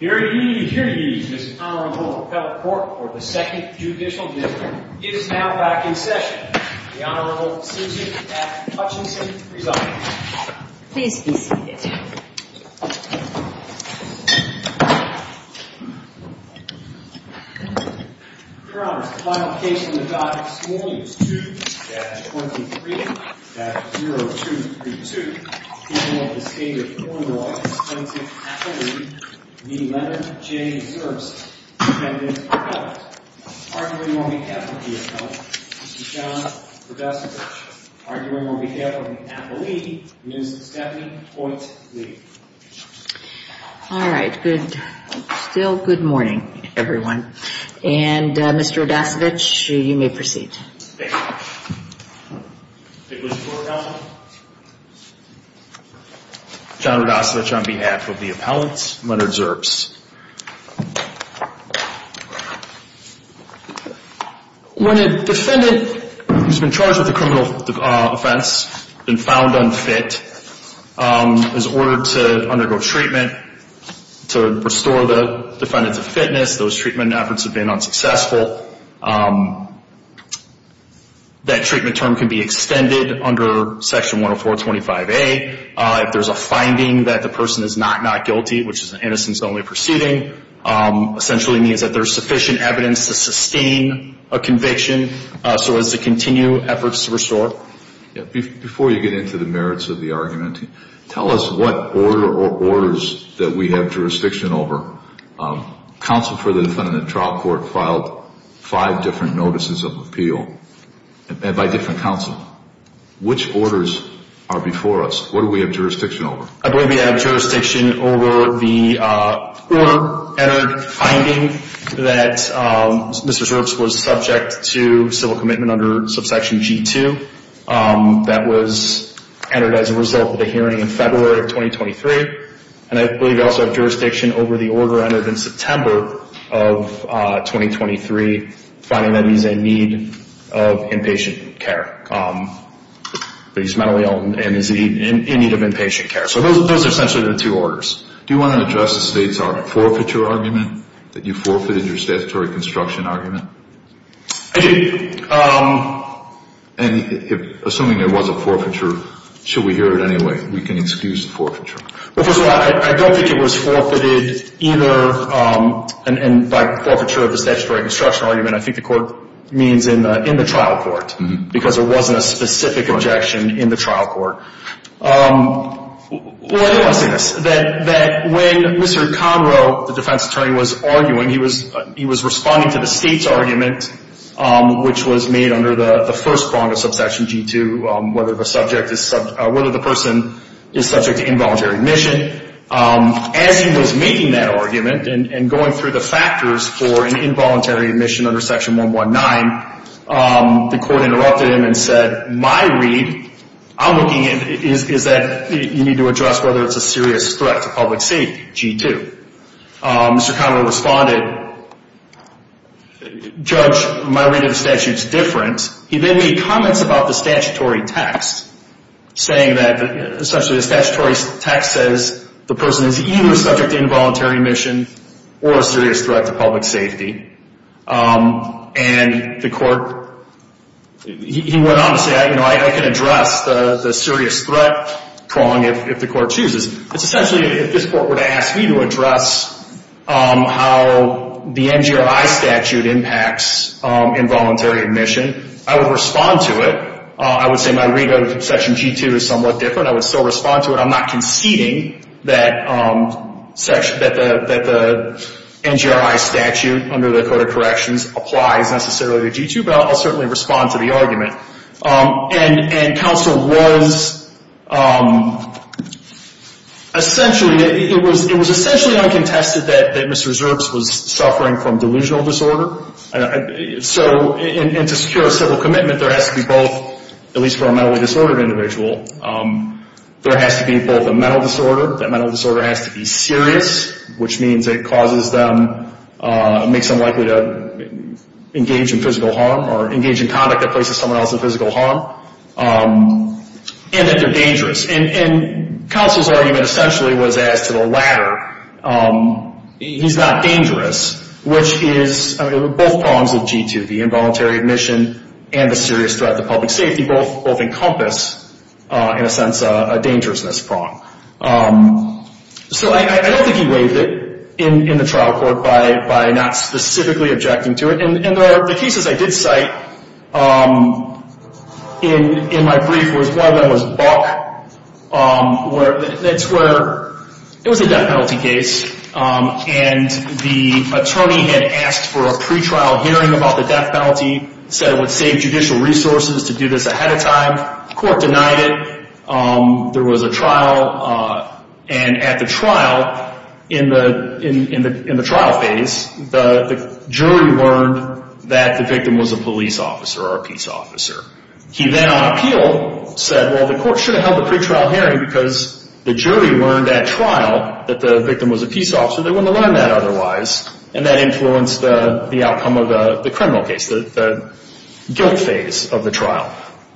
Hear ye, hear ye, Mr. Honorable Appellate Court for the Second Judicial Dismissal. It is now back in session. The Honorable C.J. F. Hutchinson resigns. Please be seated. Your Honor, the final case on the docket this morning is 2-23-0232. The appeal of the State of Illinois Constituent Appellate v. Leonard J. Zerbst to the defendant's partners. Arguing on behalf of the appellate, Mr. John Rodasiewicz. Arguing on behalf of the appellate, Ms. Stephanie Hoyt Lee. All right, still good morning, everyone. And Mr. Rodasiewicz, you may proceed. John Rodasiewicz on behalf of the appellate, Leonard Zerbst. When a defendant who's been charged with a criminal offense and found unfit is ordered to undergo treatment to restore the defendant to fitness, those treatment efforts have been unsuccessful, that treatment term can be extended under Section 10425A. If there's a finding that the person is not not guilty, which is an innocence-only proceeding, essentially means that there's sufficient evidence to sustain a conviction so as to continue efforts to restore. Before you get into the merits of the argument, tell us what order or orders that we have jurisdiction over. Counsel for the defendant in the trial court filed five different notices of appeal by different counsel. Which orders are before us? What do we have jurisdiction over? I believe we have jurisdiction over the order, finding that Mr. Zerbst was subject to civil commitment under subsection G2. That was entered as a result of the hearing in February of 2023. And I believe we also have jurisdiction over the order entered in September of 2023, finding that he's in need of inpatient care. That he's mentally ill and is in need of inpatient care. So those are essentially the two orders. Do you want to address the state's forfeiture argument, that you forfeited your statutory construction argument? I do. And assuming there was a forfeiture, should we hear it anyway? We can excuse the forfeiture. Well, first of all, I don't think it was forfeited either. And by forfeiture of the statutory construction argument, I think the court means in the trial court, because there wasn't a specific objection in the trial court. Well, I do want to say this, that when Mr. Conroe, the defense attorney, was arguing, he was responding to the state's argument, which was made under the first prong of subsection G2, whether the person is subject to involuntary admission. As he was making that argument and going through the factors for an involuntary admission under section 119, the court interrupted him and said, my read I'm looking at is that you need to address whether it's a serious threat to public safety, G2. Mr. Conroe responded, Judge, my read of the statute is different. He then made comments about the statutory text, saying that essentially the statutory text says, the person is either subject to involuntary admission or a serious threat to public safety. And the court, he went on to say, you know, I can address the serious threat prong if the court chooses. It's essentially if this court were to ask me to address how the NGRI statute impacts involuntary admission, I would respond to it. I would say my read of section G2 is somewhat different. I would still respond to it. I'm not conceding that the NGRI statute under the Code of Corrections applies necessarily to G2, but I'll certainly respond to the argument. And counsel was essentially, it was essentially uncontested that Mr. Zerbs was suffering from delusional disorder. So, and to secure a civil commitment, there has to be both, at least for a mentally disordered individual, there has to be both a mental disorder, that mental disorder has to be serious, which means it causes them, makes them likely to engage in physical harm or engage in conduct that places someone else in physical harm, and that they're dangerous. And counsel's argument essentially was as to the latter. He's not dangerous, which is, I mean, both prongs of G2, the involuntary admission and the serious threat to public safety both encompass, in a sense, a dangerousness prong. So I don't think he waived it in the trial court by not specifically objecting to it. And the cases I did cite in my brief was one of them was Buck, where it's where it was a death penalty case, and the attorney had asked for a pretrial hearing about the death penalty, said it would save judicial resources to do this ahead of time. The court denied it. There was a trial. And at the trial, in the trial phase, the jury learned that the victim was a police officer or a peace officer. He then, on appeal, said, well, the court should have held the pretrial hearing because the jury learned at trial that the victim was a peace officer. They wouldn't have learned that otherwise. And that influenced the outcome of the criminal case, the guilt phase of the trial.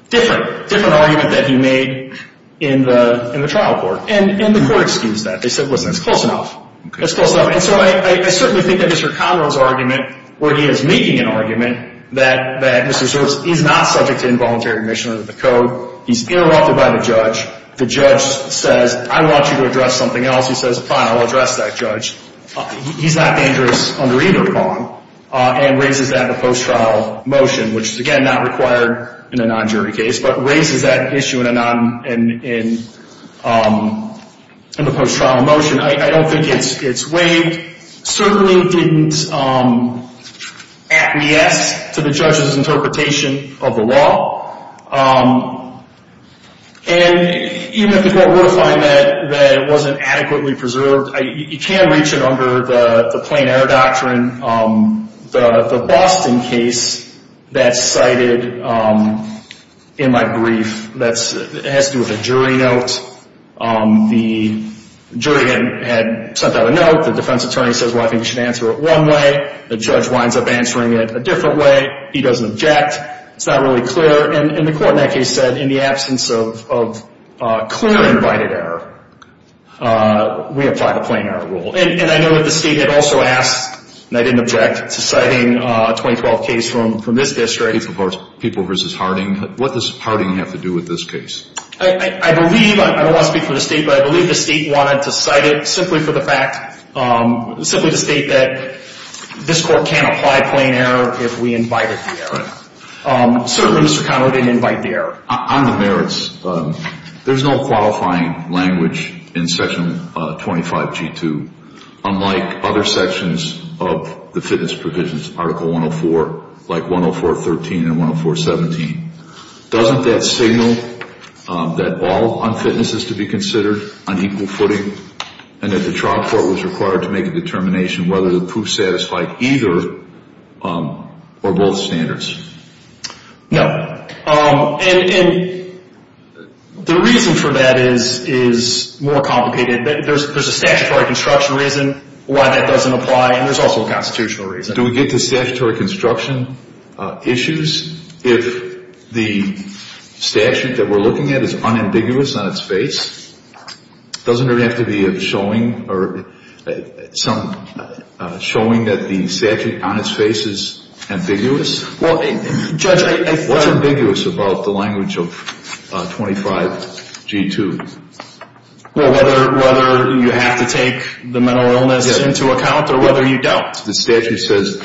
Different, different argument that he made in the trial court. And the court excused that. They said, listen, it's close enough. It's close enough. And so I certainly think that Mr. Conroe's argument, where he is making an argument, that Mr. Sturtz, he's not subject to involuntary admission under the code. He's interrupted by the judge. The judge says, I want you to address something else. He says, fine, I'll address that judge. He's not dangerous under either prong and raises that in a post-trial motion, which is, again, not required in a non-jury case, but raises that issue in the post-trial motion. I don't think it's waived. Certainly didn't acquiesce to the judge's interpretation of the law. And even if the court were to find that it wasn't adequately preserved, you can reach it under the plain error doctrine. The Boston case that's cited in my brief has to do with a jury note. The jury had sent out a note. The defense attorney says, well, I think you should answer it one way. The judge winds up answering it a different way. He doesn't object. It's not really clear. And the court in that case said, in the absence of clear invited error, we apply the plain error rule. And I know that the State had also asked, and I didn't object, to citing a 2012 case from this district. People v. Harding. What does Harding have to do with this case? I believe, I don't want to speak for the State, but I believe the State wanted to cite it simply for the fact, simply to state that this court can't apply plain error if we invited the error. Certainly, Mr. Connor, it didn't invite the error. On the merits, there's no qualifying language in Section 25G2, unlike other sections of the fitness provisions, Article 104, like 104.13 and 104.17. Doesn't that signal that all unfitness is to be considered on equal footing and that the trial court was required to make a determination whether the proof was satisfied either or both standards? No. And the reason for that is more complicated. There's a statutory construction reason why that doesn't apply, and there's also a constitutional reason. Do we get to statutory construction issues if the statute that we're looking at is unambiguous on its face? Doesn't there have to be a showing or some showing that the statute on its face is ambiguous? Well, Judge, I think that… What's ambiguous about the language of 25G2? Well, whether you have to take the mental illness into account or whether you don't. The statute says,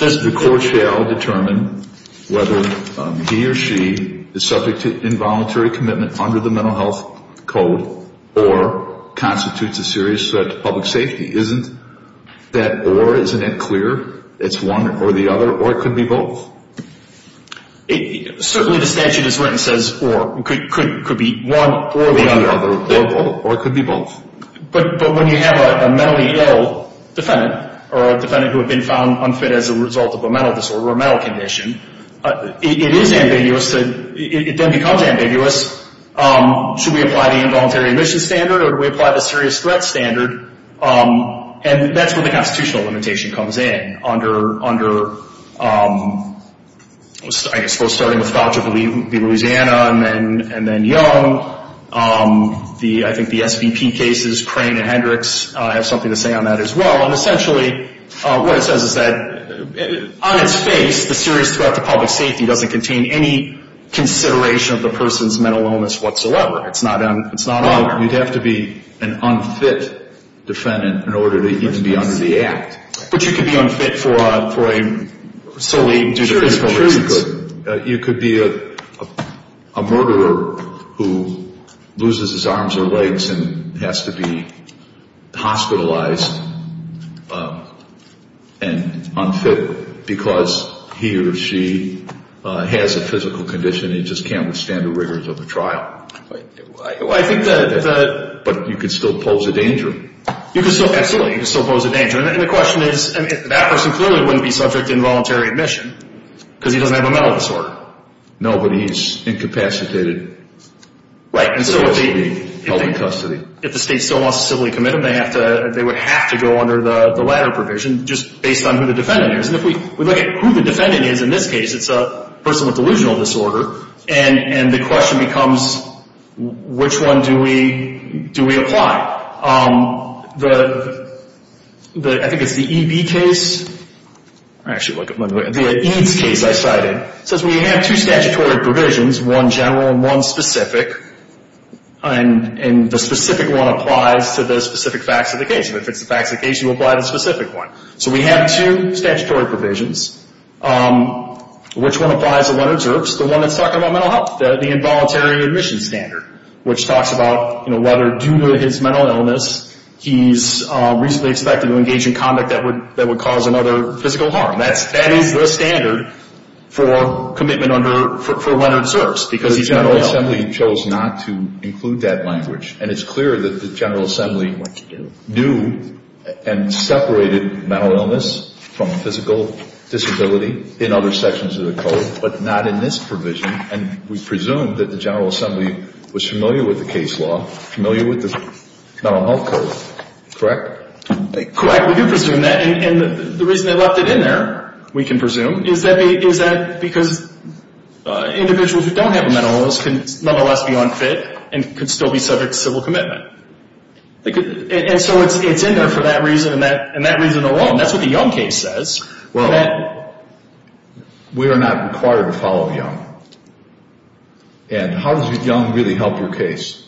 the court shall determine whether he or she is subject to involuntary commitment under the Mental Health Code or constitutes a serious threat to public safety. Isn't that or? Isn't that clear? It's one or the other, or it could be both? Certainly the statute is written, says or. It could be one or the other. Or it could be both. But when you have a mentally ill defendant or a defendant who had been found unfit as a result of a mental disorder or a mental condition, it is ambiguous. It then becomes ambiguous. Should we apply the involuntary remission standard or do we apply the serious threat standard? And that's where the constitutional limitation comes in. Under, I suppose, starting with Foucha v. Louisiana and then Young, I think the SVP cases, Crane and Hendricks, have something to say on that as well. And essentially what it says is that, on its face, the serious threat to public safety doesn't contain any consideration of the person's mental illness whatsoever. It's not on there. Well, you'd have to be an unfit defendant in order to even be under the Act. But you could be unfit for a solely due to physical reasons. You could be a murderer who loses his arms or legs and has to be hospitalized and unfit because he or she has a physical condition and just can't withstand the rigors of a trial. But you could still pose a danger. Absolutely, you could still pose a danger. And the question is, that person clearly wouldn't be subject to involuntary admission because he doesn't have a mental disorder. No, but he's incapacitated. Right, and so if the state still wants to civilly commit him, they would have to go under the latter provision just based on who the defendant is. And if we look at who the defendant is in this case, it's a person with delusional disorder. And the question becomes, which one do we apply? I think it's the EB case. Actually, let me look at the EADS case I cited. It says we have two statutory provisions, one general and one specific. And the specific one applies to the specific facts of the case. And if it's the facts of the case, you apply the specific one. So we have two statutory provisions. Which one applies and one observes? The one that's talking about mental health, the involuntary admission standard, which talks about whether due to his mental illness, he's reasonably expected to engage in conduct that would cause another physical harm. That is the standard for commitment under, for one observes because he's mentally ill. The General Assembly chose not to include that language. And it's clear that the General Assembly knew and separated mental illness from physical disability in other sections of the code, but not in this provision. And we presume that the General Assembly was familiar with the case law, familiar with the mental health code, correct? Correct. We do presume that. And the reason they left it in there, we can presume, is that because individuals who don't have a mental illness can nonetheless be unfit and could still be subject to civil commitment. And so it's in there for that reason and that reason alone. That's what the Young case says. Well, we are not required to follow Young. And how does Young really help your case?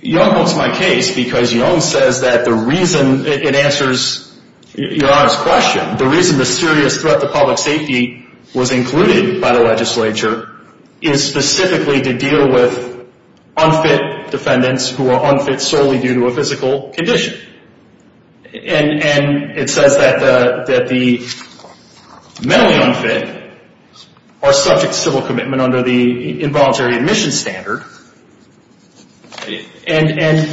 Young helps my case because Young says that the reason it answers your honest question, the reason the serious threat to public safety was included by the legislature is specifically to deal with unfit defendants who are unfit solely due to a physical condition. And it says that the mentally unfit are subject to civil commitment under the involuntary admission standard. And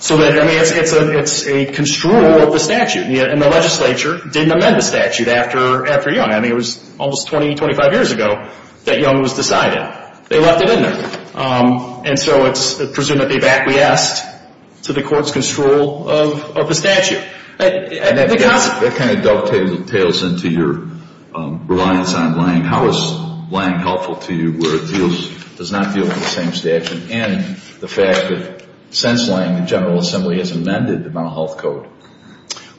so that, I mean, it's a construal of the statute. And the legislature didn't amend the statute after Young. I mean, it was almost 20, 25 years ago that Young was decided. They left it in there. And so it's presumed that they've acquiesced to the court's construal of the statute. That kind of dovetails into your reliance on Lange. How is Lange helpful to you where it does not deal with the same statute and the fact that since Lange, the General Assembly has amended the Mental Health Code?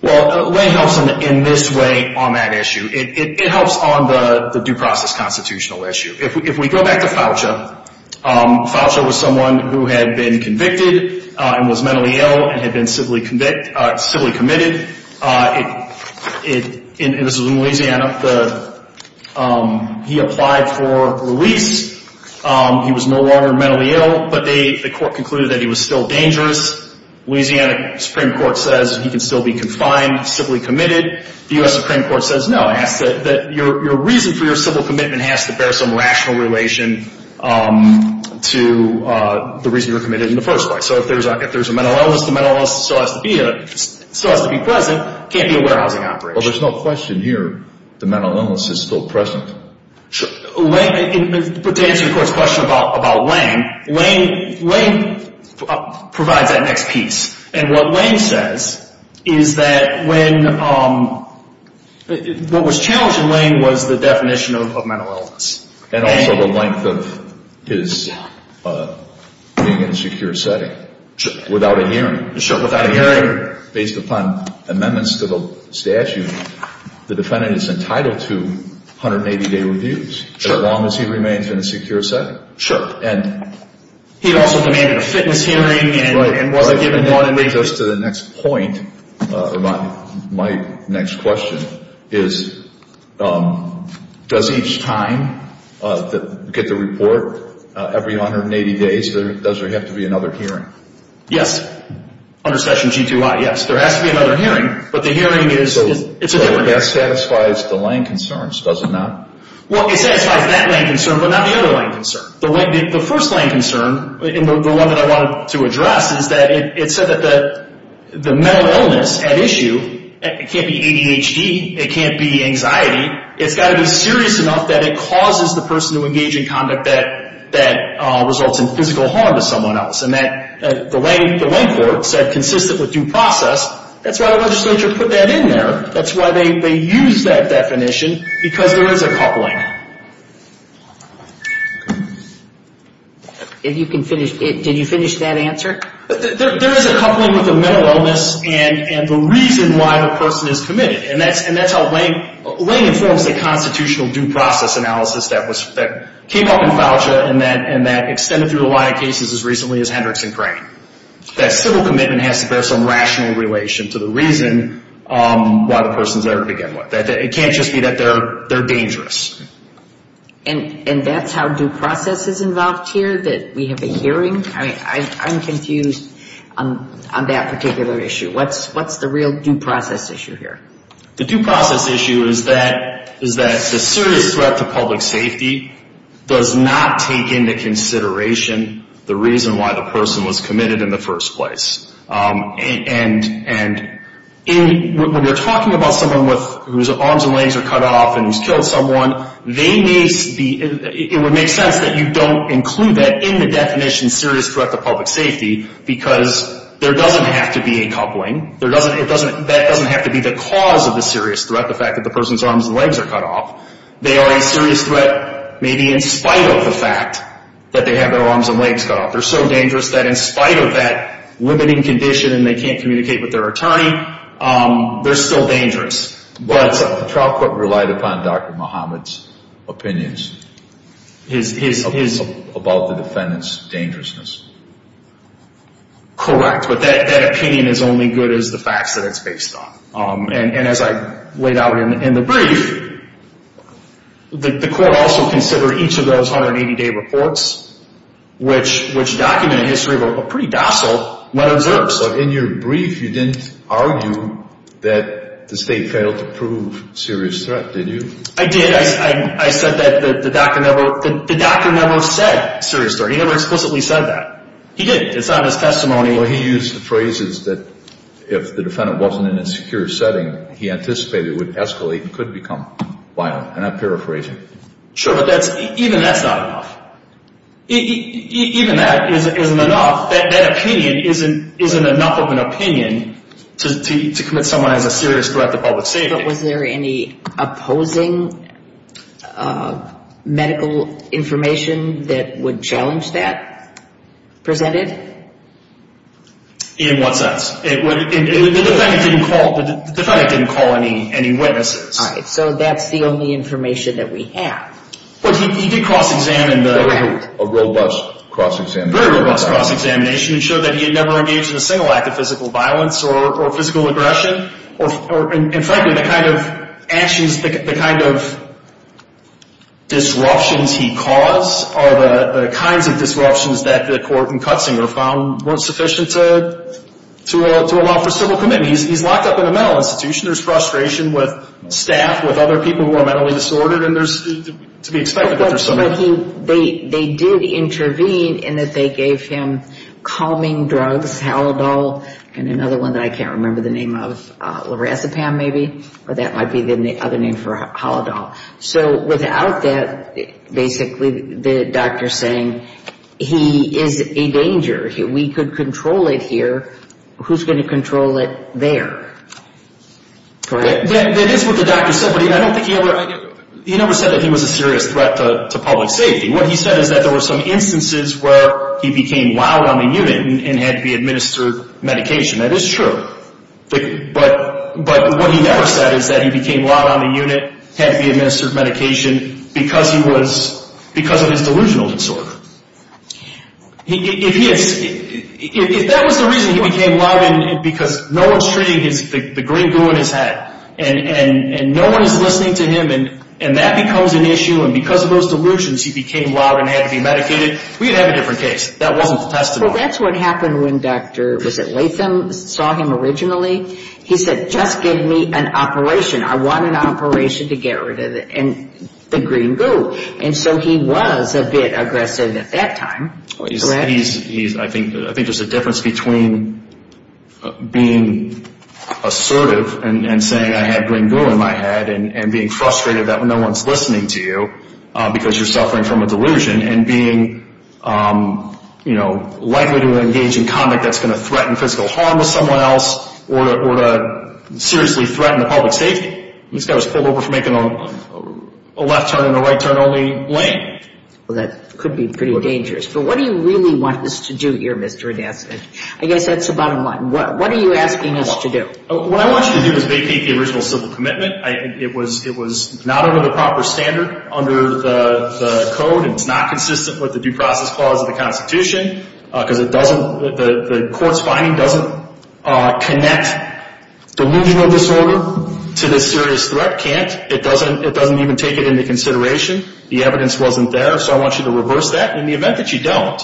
Well, Lange helps in this way on that issue. It helps on the due process constitutional issue. If we go back to Foucha, Foucha was someone who had been convicted and was mentally ill and had been civilly committed. And this was in Louisiana. He applied for release. He was no longer mentally ill, but the court concluded that he was still dangerous. Louisiana Supreme Court says he can still be confined, civilly committed. The U.S. Supreme Court says no. It asks that your reason for your civil commitment has to bear some rational relation to the reason you were committed in the first place. So if there's a mental illness, the mental illness still has to be present. It can't be a warehousing operation. Well, there's no question here the mental illness is still present. To answer the court's question about Lange, Lange provides that next piece. And what Lange says is that what was challenged in Lange was the definition of mental illness. And also the length of his being in a secure setting without a hearing. Sure, without a hearing. Based upon amendments to the statute, the defendant is entitled to 180-day reviews as long as he remains in a secure setting. Sure. He also demanded a fitness hearing. Just to the next point, my next question is, does each time get the report every 180 days? Does there have to be another hearing? Yes. Under section G2I, yes. There has to be another hearing, but the hearing is a different hearing. That satisfies the Lange concerns, does it not? Well, it satisfies that Lange concern, but not the other Lange concern. The first Lange concern, the one that I wanted to address, is that it said that the mental illness at issue, it can't be ADHD, it can't be anxiety. It's got to be serious enough that it causes the person to engage in conduct that results in physical harm to someone else. And the Lange court said consistent with due process. That's why the legislature put that in there. That's why they used that definition, because there is a coupling. If you can finish, did you finish that answer? There is a coupling with the mental illness and the reason why the person is committed. And that's how Lange informs the constitutional due process analysis that came up in FAUJA and that extended through a lot of cases as recently as Hendricks and Crane. That civil commitment has to bear some rational relation to the reason why the person is there to begin with. It can't just be that they're dangerous. And that's how due process is involved here, that we have a hearing? I'm confused on that particular issue. What's the real due process issue here? The due process issue is that the serious threat to public safety does not take into consideration the reason why the person was committed in the first place. And when you're talking about someone whose arms and legs are cut off and who's killed someone, it would make sense that you don't include that in the definition serious threat to public safety, because there doesn't have to be a coupling. That doesn't have to be the cause of the serious threat, the fact that the person's arms and legs are cut off. They are a serious threat maybe in spite of the fact that they have their arms and legs cut off. They're so dangerous that in spite of that limiting condition and they can't communicate with their attorney, they're still dangerous. But the trial court relied upon Dr. Muhammad's opinions about the defendant's dangerousness. Correct, but that opinion is only good as the facts that it's based on. And as I laid out in the brief, the court also considered each of those 180-day reports, which document a history of a pretty docile letter of service. But in your brief, you didn't argue that the state failed to prove serious threat, did you? I did. I said that the doctor never said serious threat. He never explicitly said that. He did. It's not in his testimony. Well, he used the phrases that if the defendant wasn't in a secure setting, he anticipated it would escalate and could become violent. And I'm paraphrasing. Sure, but even that's not enough. Even that isn't enough. That opinion isn't enough of an opinion to commit someone as a serious threat to public safety. But was there any opposing medical information that would challenge that presented? In what sense? The defendant didn't call any witnesses. All right, so that's the only information that we have. Well, he did cross-examine. A robust cross-examination. Very robust cross-examination. It showed that he had never engaged in a single act of physical violence or physical aggression. And frankly, the kind of actions, the kind of disruptions he caused are the kinds of disruptions that the court in Kutzinger found weren't sufficient to allow for civil commitment. He's locked up in a mental institution. There's frustration with staff, with other people who are mentally disordered, and there's to be expected that there's somebody. They did intervene in that they gave him calming drugs, Halodol, and another one that I can't remember the name of, lorazepam maybe? Or that might be the other name for Halodol. So without that, basically the doctor's saying he is a danger. We could control it here. Who's going to control it there? That is what the doctor said, but I don't think he ever said that he was a serious threat to public safety. What he said is that there were some instances where he became loud on the unit and had to be administered medication. That is true. But what he never said is that he became loud on the unit, had to be administered medication, because of his delusional disorder. If that was the reason he became loud, because no one's treating the green goo in his head, and no one's listening to him, and that becomes an issue, and because of those delusions he became loud and had to be medicated, we'd have a different case. That wasn't the testimony. Well, that's what happened when Dr. Latham saw him originally. He said, just give me an operation. I want an operation to get rid of the green goo. And so he was a bit aggressive at that time. I think there's a difference between being assertive and saying I had green goo in my head and being frustrated that no one's listening to you because you're suffering from a delusion and being likely to engage in conduct that's going to threaten physical harm with someone else or to seriously threaten the public safety. This guy was pulled over for making a left turn in a right turn only lane. Well, that could be pretty dangerous. But what do you really want us to do here, Mr. Adasnik? I guess that's the bottom line. What are you asking us to do? What I want you to do is vacate the original civil commitment. It was not under the proper standard under the code, and it's not consistent with the due process clause of the Constitution, because the court's finding doesn't connect delusional disorder to the serious threat, can't. It doesn't even take it into consideration. The evidence wasn't there. So I want you to reverse that. And in the event that you don't,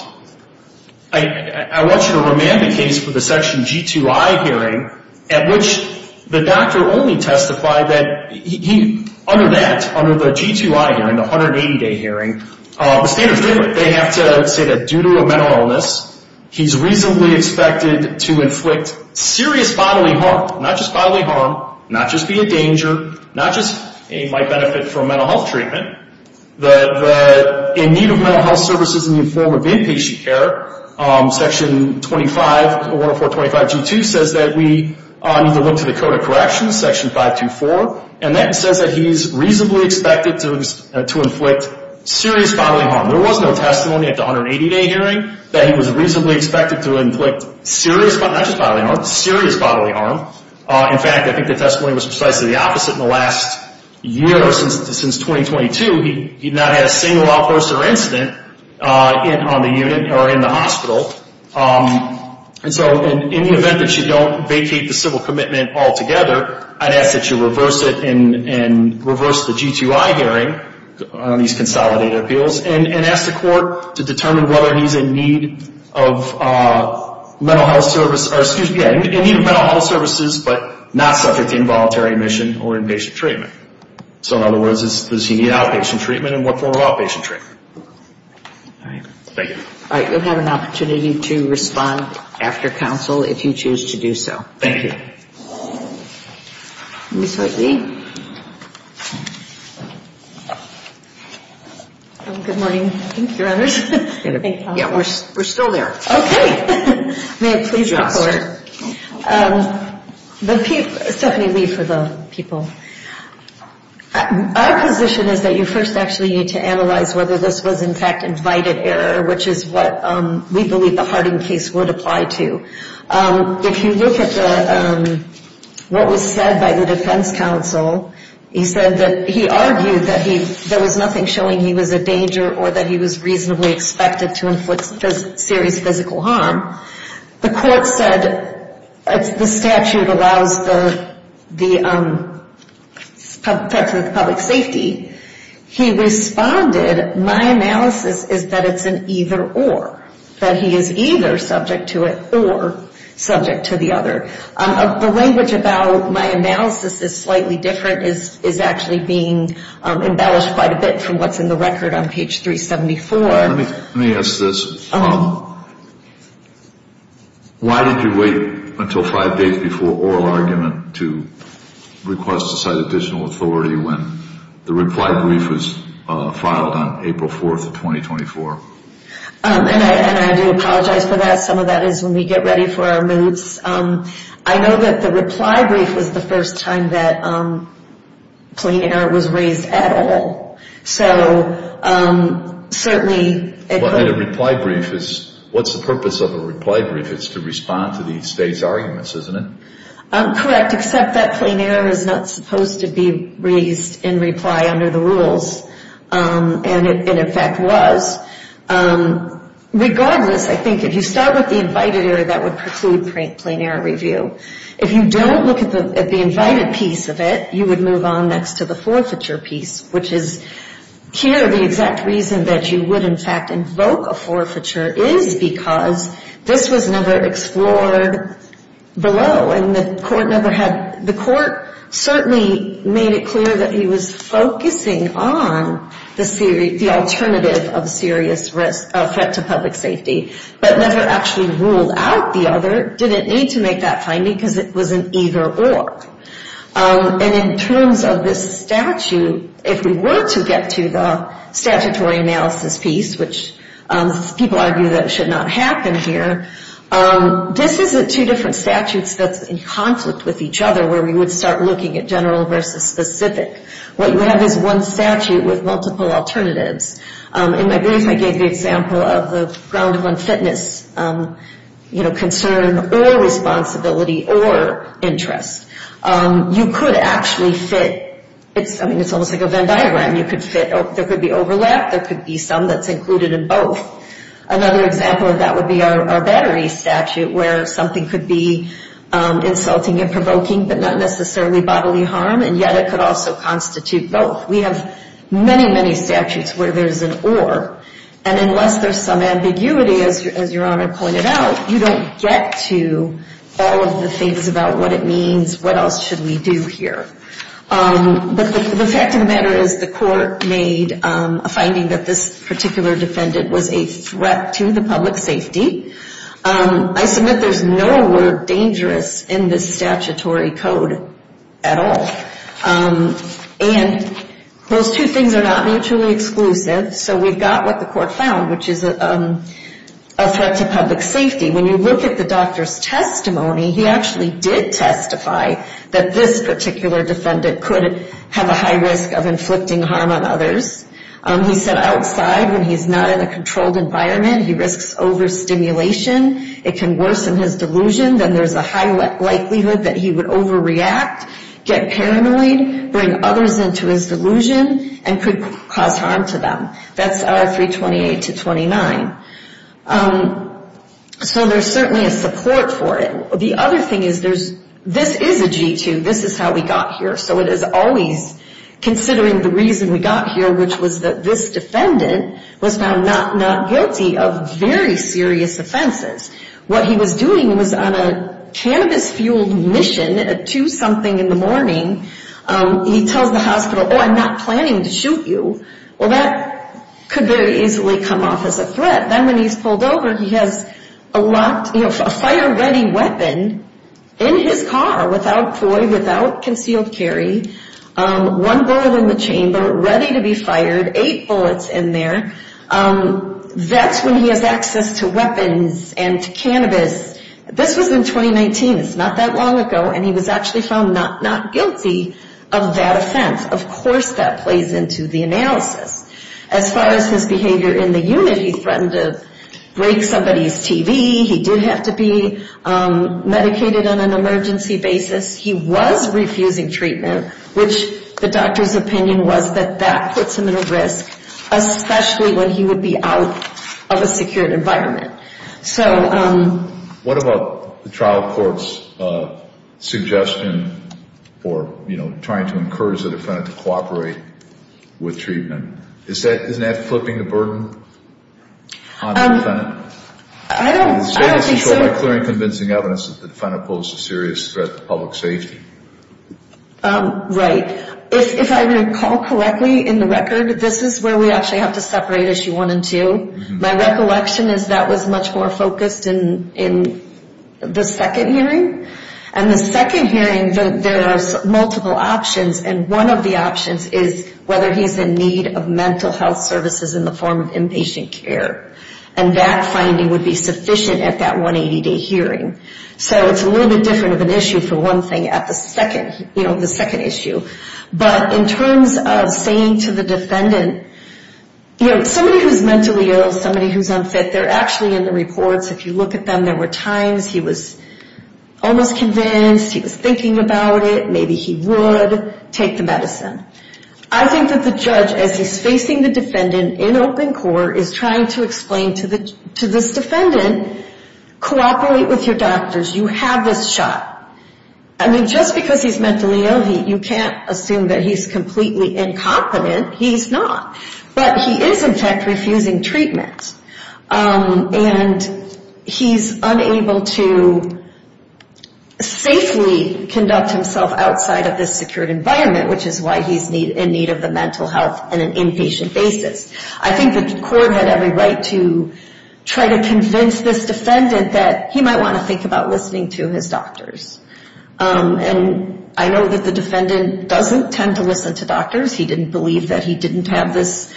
I want you to remand the case for the Section G2I hearing at which the doctor only testified that under that, under the G2I hearing, the 180-day hearing, the standard's different. They have to say that due to a mental illness, he's reasonably expected to inflict serious bodily harm, not just bodily harm, not just be a danger, not just might benefit from mental health treatment, that in need of mental health services in the form of inpatient care, Section 104.25G2 says that we need to look to the Code of Corrections, Section 524, and that says that he's reasonably expected to inflict serious bodily harm. There was no testimony at the 180-day hearing that he was reasonably expected to inflict serious, not just bodily harm, serious bodily harm. In fact, I think the testimony was precisely the opposite. In the last year since 2022, he's not had a single outburst or incident on the unit or in the hospital. And so in the event that you don't vacate the civil commitment altogether, I'd ask that you reverse it and reverse the G2I hearing on these consolidated appeals. And ask the court to determine whether he's in need of mental health services, but not subject to involuntary admission or inpatient treatment. So in other words, does he need outpatient treatment and what form of outpatient treatment? All right. Thank you. All right. You'll have an opportunity to respond after counsel if you choose to do so. Thank you. Ms. Hartley? Good morning. Thank you, Your Honor. Yeah, we're still there. Okay. May I please report? Stephanie, leave for the people. Our position is that you first actually need to analyze whether this was, in fact, invited error, which is what we believe the Harding case would apply to. If you look at what was said by the defense counsel, he said that he argued that there was nothing showing he was a danger or that he was reasonably expected to inflict serious physical harm. The court said the statute allows the public safety. He responded, my analysis is that it's an either or, that he is either subject to it or subject to the other. The language about my analysis is slightly different, is actually being embellished quite a bit from what's in the record on page 374. Let me ask this. Why did you wait until five days before oral argument to request to cite additional authority when the reply brief was filed on April 4th of 2024? And I do apologize for that. Some of that is when we get ready for our moves. I know that the reply brief was the first time that plain error was raised at all. So certainly it was. But a reply brief is, what's the purpose of a reply brief? It's to respond to the state's arguments, isn't it? Correct, except that plain error is not supposed to be raised in reply under the rules, and it in fact was. Regardless, I think if you start with the invited area, that would preclude plain error review. If you don't look at the invited piece of it, you would move on next to the forfeiture piece, which is here the exact reason that you would in fact invoke a forfeiture is because this was never explored below. And the court certainly made it clear that he was focusing on the alternative of serious threat to public safety, but never actually ruled out the other. Didn't need to make that finding because it was an either or. And in terms of this statute, if we were to get to the statutory analysis piece, which people argue that should not happen here, this is two different statutes that's in conflict with each other where we would start looking at general versus specific. What you have is one statute with multiple alternatives. In my brief, I gave the example of the ground one fitness concern or responsibility or interest. You could actually fit. I mean, it's almost like a Venn diagram. You could fit. There could be overlap. There could be some that's included in both. Another example of that would be our battery statute where something could be insulting and provoking, but not necessarily bodily harm, and yet it could also constitute both. We have many, many statutes where there's an or. And unless there's some ambiguity, as Your Honor pointed out, you don't get to all of the things about what it means, what else should we do here. But the fact of the matter is the court made a finding that this particular defendant was a threat to the public safety. I submit there's no word dangerous in this statutory code at all. And those two things are not mutually exclusive, so we've got what the court found, which is a threat to public safety. When you look at the doctor's testimony, he actually did testify that this particular defendant could have a high risk of inflicting harm on others. He said outside when he's not in a controlled environment, he risks overstimulation. It can worsen his delusion. Then there's a high likelihood that he would overreact, get paranoid, bring others into his delusion, and could cause harm to them. That's our 328-29. So there's certainly a support for it. The other thing is this is a G-2. This is how we got here. So it is always considering the reason we got here, which was that this defendant was found not guilty of very serious offenses. What he was doing was on a cannabis-fueled mission at 2 something in the morning. He tells the hospital, oh, I'm not planning to shoot you. Well, that could very easily come off as a threat. Then when he's pulled over, he has a fire-ready weapon in his car without FOI, without concealed carry. One bullet in the chamber, ready to be fired, eight bullets in there. That's when he has access to weapons and to cannabis. This was in 2019. It's not that long ago, and he was actually found not guilty of that offense. Of course that plays into the analysis. As far as his behavior in the unit, he threatened to break somebody's TV. He did have to be medicated on an emergency basis. He was refusing treatment, which the doctor's opinion was that that puts him at a risk, especially when he would be out of a secured environment. What about the trial court's suggestion for trying to encourage the defendant to cooperate with treatment? Isn't that flipping the burden on the defendant? I don't think so. Is there any control by clearing convincing evidence that the defendant posed a serious threat to public safety? Right. If I recall correctly in the record, this is where we actually have to separate issue one and two. My recollection is that was much more focused in the second hearing. In the second hearing, there are multiple options. One of the options is whether he's in need of mental health services in the form of inpatient care. That finding would be sufficient at that 180-day hearing. It's a little bit different of an issue for one thing at the second issue. But in terms of saying to the defendant, you know, somebody who's mentally ill, somebody who's unfit, they're actually in the reports. If you look at them, there were times he was almost convinced, he was thinking about it, maybe he would take the medicine. I think that the judge, as he's facing the defendant in open court, is trying to explain to this defendant, cooperate with your doctors. You have this shot. I mean, just because he's mentally ill, you can't assume that he's completely incompetent. He's not. But he is, in fact, refusing treatment. And he's unable to safely conduct himself outside of this secured environment, which is why he's in need of the mental health on an inpatient basis. I think the court had every right to try to convince this defendant that he might want to think about listening to his doctors. And I know that the defendant doesn't tend to listen to doctors. He didn't believe that he didn't have this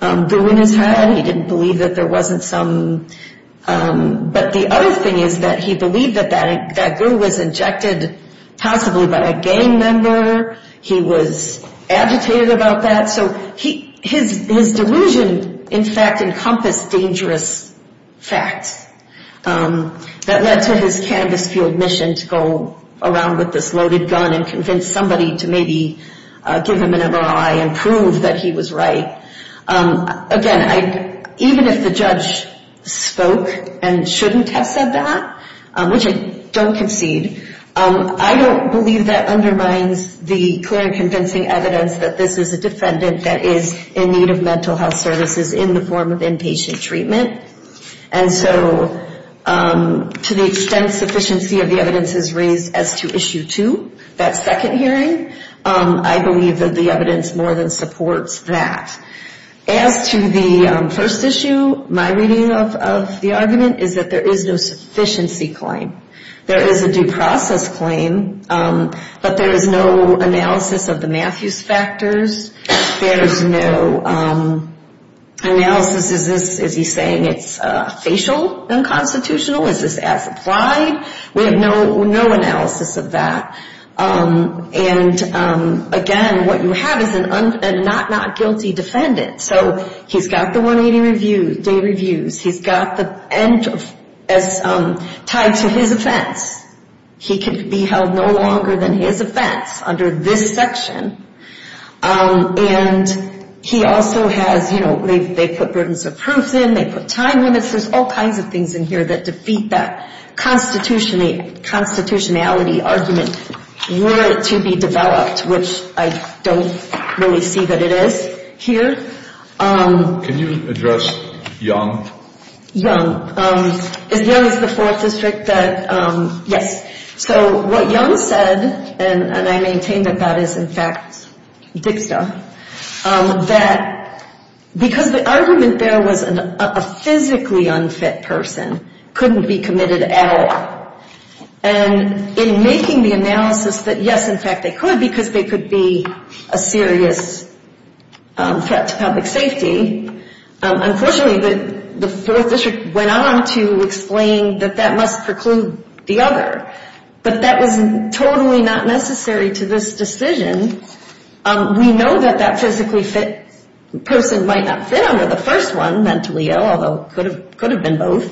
goo in his head. He didn't believe that there wasn't some. But the other thing is that he believed that that goo was injected possibly by a gang member. He was agitated about that. So his delusion, in fact, encompassed dangerous facts that led to his canvass-fueled mission to go around with this loaded gun and convince somebody to maybe give him an MRI and prove that he was right. Again, even if the judge spoke and shouldn't have said that, which I don't concede, I don't believe that undermines the clear and convincing evidence that this is a defendant that is in need of mental health services in the form of inpatient treatment. And so to the extent sufficiency of the evidence is raised as to Issue 2, that second hearing, I believe that the evidence more than supports that. As to the first issue, my reading of the argument is that there is no sufficiency claim. There is a due process claim, but there is no analysis of the Matthews factors. There is no analysis. Is he saying it's facial unconstitutional? Is this as applied? We have no analysis of that. And again, what you have is a not-guilty defendant. So he's got the 180-day reviews. He's got the end as tied to his offense. He can be held no longer than his offense under this section. And he also has, you know, they put burdensome proofs in, they put time limits. There's all kinds of things in here that defeat that constitutionality argument were it to be developed, which I don't really see that it is here. Can you address Young? Young. Is Young the fourth district that, yes. So what Young said, and I maintain that that is in fact DICSA, that because the argument there was a physically unfit person couldn't be committed at all. And in making the analysis that, yes, in fact they could because they could be a serious threat to public safety. Unfortunately, the fourth district went on to explain that that must preclude the other. But that was totally not necessary to this decision. We know that that physically fit person might not fit under the first one, mentally ill, although it could have been both.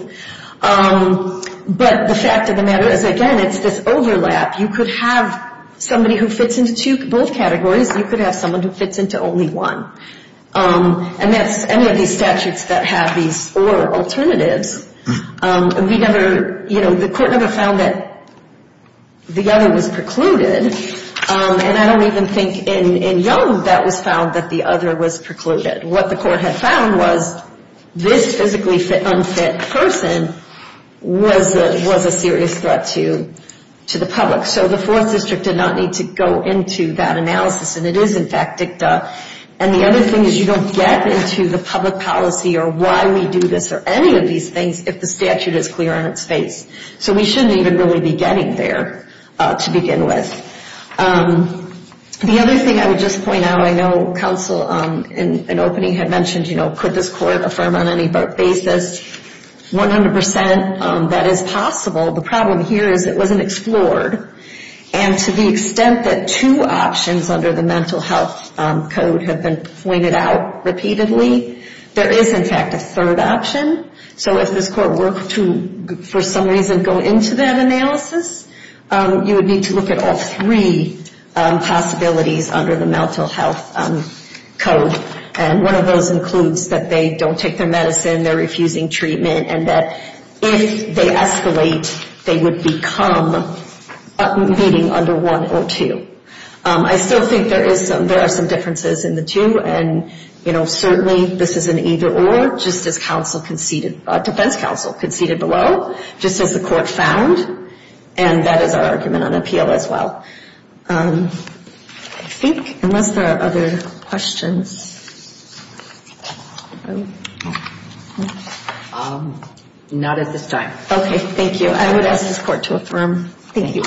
But the fact of the matter is, again, it's this overlap. You could have somebody who fits into both categories. You could have someone who fits into only one. And that's any of these statutes that have these four alternatives. We never, you know, the court never found that the other was precluded. And I don't even think in Young that was found that the other was precluded. What the court had found was this physically unfit person was a serious threat to the public. So the fourth district did not need to go into that analysis. And it is, in fact, DICTA. And the other thing is you don't get into the public policy or why we do this or any of these things if the statute is clear on its face. So we shouldn't even really be getting there to begin with. The other thing I would just point out, I know counsel in opening had mentioned, you know, could this court affirm on any basis 100% that is possible. The problem here is it wasn't explored. And to the extent that two options under the Mental Health Code have been pointed out repeatedly, there is, in fact, a third option. So if this court were to, for some reason, go into that analysis, you would need to look at all three possibilities under the Mental Health Code. And one of those includes that they don't take their medicine, they're refusing treatment, and that if they escalate, they would become meeting under one or two. I still think there are some differences in the two. And, you know, certainly this is an either-or, just as defense counsel conceded below, just as the court found. And that is our argument on appeal as well. I think, unless there are other questions. Not at this time. Okay, thank you. I would ask this court to affirm. All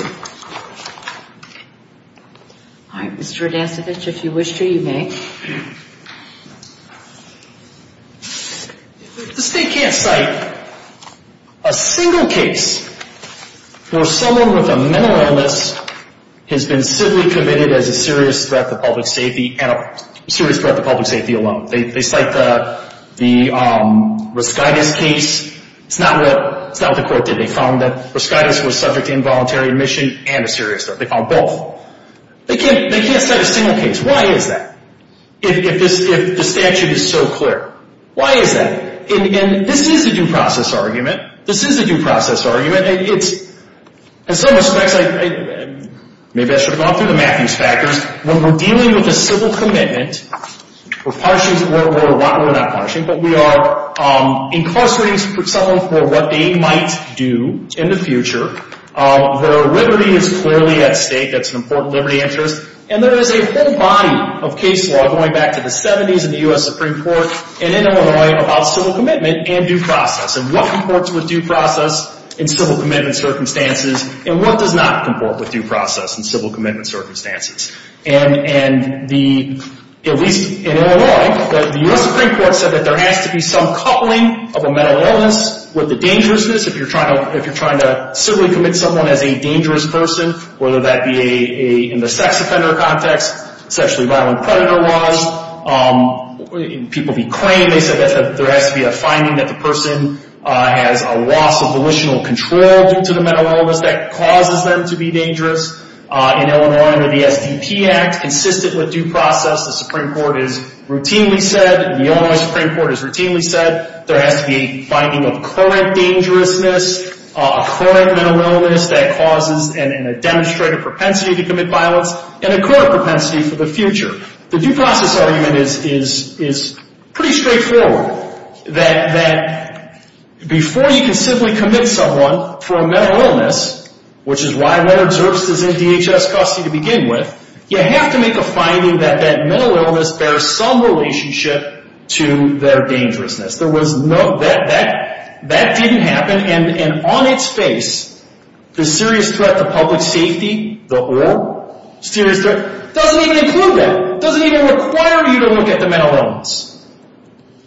right, Mr. Radancevich, if you wish to, you may. If the state can't cite a single case where someone with a mental illness has been simply committed as a serious threat to public safety, and a serious threat to public safety alone. They cite the Reschitis case. It's not what the court did. They found that Reschitis was subject to involuntary admission and a serious threat. They found both. They can't cite a single case. Why is that? If the statute is so clear. Why is that? And this is a due process argument. This is a due process argument. It's, in some respects, maybe I should have gone through the Matthews factors. When we're dealing with a civil commitment, we're not punishing, but we are incarcerating someone for what they might do in the future. Their liberty is clearly at stake. That's an important liberty interest. And there is a whole body of case law going back to the 70s in the U.S. Supreme Court and in Illinois about civil commitment and due process. And what comports with due process in civil commitment circumstances, and what does not comport with due process in civil commitment circumstances? And the, at least in Illinois, the U.S. Supreme Court said that there has to be some coupling of a mental illness with the dangerousness. If you're trying to civilly commit someone as a dangerous person, whether that be in the sex offender context, sexually violent predator laws, people be claimed. They said there has to be a finding that the person has a loss of volitional control due to the mental illness that causes them to be dangerous. In Illinois, under the SDP Act, consistent with due process, the Supreme Court has routinely said, and the Illinois Supreme Court has routinely said, there has to be a finding of current dangerousness, a current mental illness that causes and a demonstrated propensity to commit violence, and a current propensity for the future. The due process argument is pretty straightforward. That before you can civilly commit someone for a mental illness, which is why letter of service is in DHS custody to begin with, you have to make a finding that that mental illness bears some relationship to their dangerousness. There was no, that didn't happen. And on its face, the serious threat to public safety, the whole serious threat, doesn't even include that. It doesn't even require you to look at the mental illness.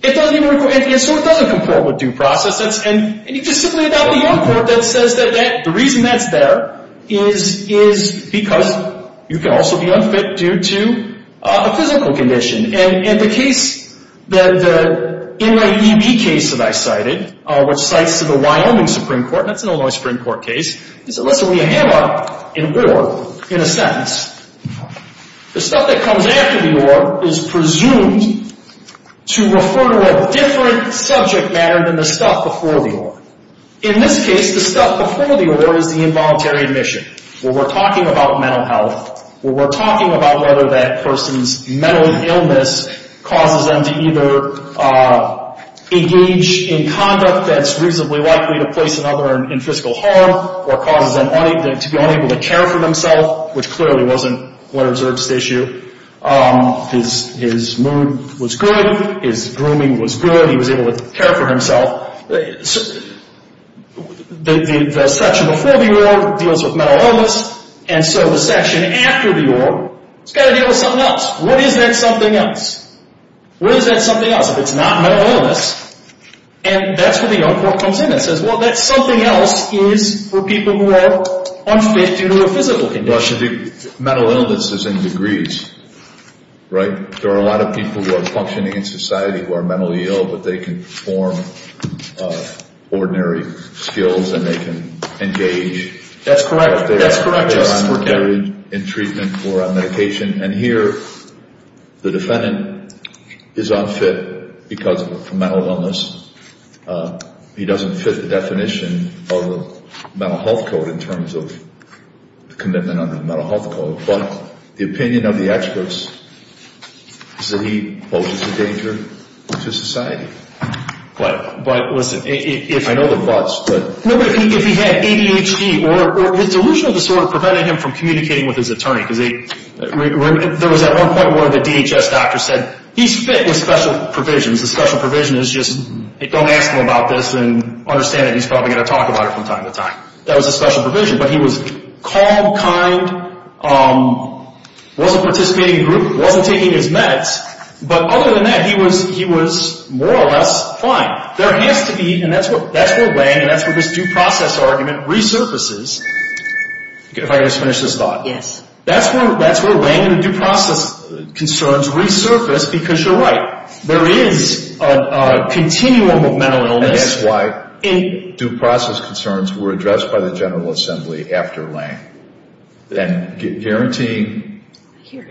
It doesn't even, and so it doesn't comport with due process. And you just simply adopt a young court that says that the reason that's there is because you can also be unfit due to a physical condition. And the case, the NYEB case that I cited, which cites the Wyoming Supreme Court, and that's an Illinois Supreme Court case, they said, listen, when you hammer in a sentence, the stuff that comes after the or is presumed to refer to a different subject matter than the stuff before the or. In this case, the stuff before the or is the involuntary admission. Well, we're talking about mental health. Well, we're talking about whether that person's mental illness causes them to either engage in conduct that's reasonably likely to place another in physical harm or causes them to be unable to care for themselves, which clearly wasn't one observed statue. His mood was good. His grooming was good. He was able to care for himself. Well, the section before the or deals with mental illness, and so the section after the or has got to deal with something else. What is that something else? What is that something else if it's not mental illness? And that's where the young court comes in and says, well, that something else is for people who are unfit due to a physical condition. Well, it should be mental illnesses in degrees, right? There are a lot of people who are functioning in society who are mentally ill, but they can perform ordinary skills and they can engage. That's correct. That's correct. In treatment or on medication. And here the defendant is unfit because of mental illness. He doesn't fit the definition of the mental health code in terms of commitment under the mental health code. But the opinion of the experts is that he poses a danger to society. But listen, if he had ADHD or his delusional disorder prevented him from communicating with his attorney, because there was at one point one of the DHS doctors said, he's fit with special provisions. The special provision is just don't ask him about this and understand that he's probably going to talk about it from time to time. That was a special provision. But he was calm, kind, wasn't participating in a group, wasn't taking his meds. But other than that, he was more or less fine. There has to be, and that's where Lange and that's where this due process argument resurfaces. If I could just finish this thought. Yes. That's where Lange and due process concerns resurface because you're right. There is a continuum of mental illness. That's why due process concerns were addressed by the General Assembly after Lange. Guaranteeing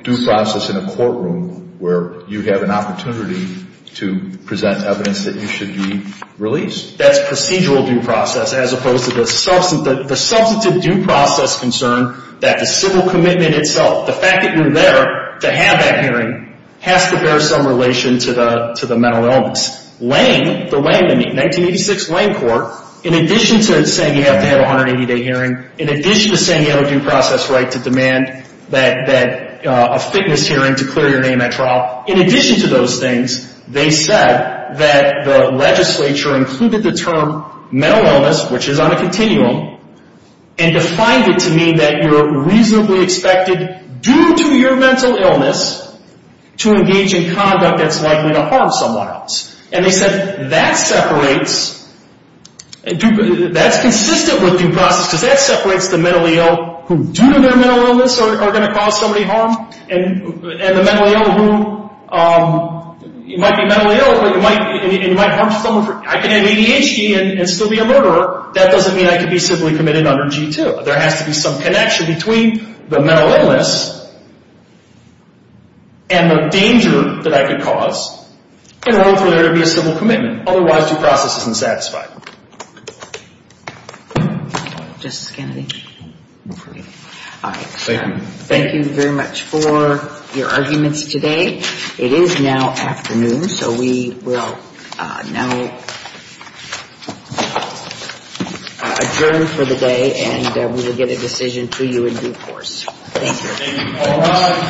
due process in a courtroom where you have an opportunity to present evidence that you should be released. That's procedural due process as opposed to the substantive due process concern that the civil commitment itself, the fact that you're there to have that hearing, has to bear some relation to the mental illness. Lange, the 1986 Lange court, in addition to saying you have to have a 180-day hearing, in addition to saying you have a due process right to demand a fitness hearing to clear your name at trial, in addition to those things, they said that the legislature included the term mental illness, which is on a continuum, and defined it to mean that you're reasonably expected, due to your mental illness, to engage in conduct that's likely to harm someone else. And they said that separates, that's consistent with due process, because that separates the mentally ill who due to their mental illness are going to cause somebody harm and the mentally ill who might be mentally ill and might harm someone. I can have ADHD and still be a murderer. That doesn't mean I can be civilly committed under G-2. There has to be some connection between the mental illness and the danger that I could cause in order for there to be a civil commitment. Otherwise, due process isn't satisfied. Justice Kennedy. Thank you. Thank you very much for your arguments today. It is now afternoon, so we will now adjourn for the day. And we will get a decision to you in due course. Thank you.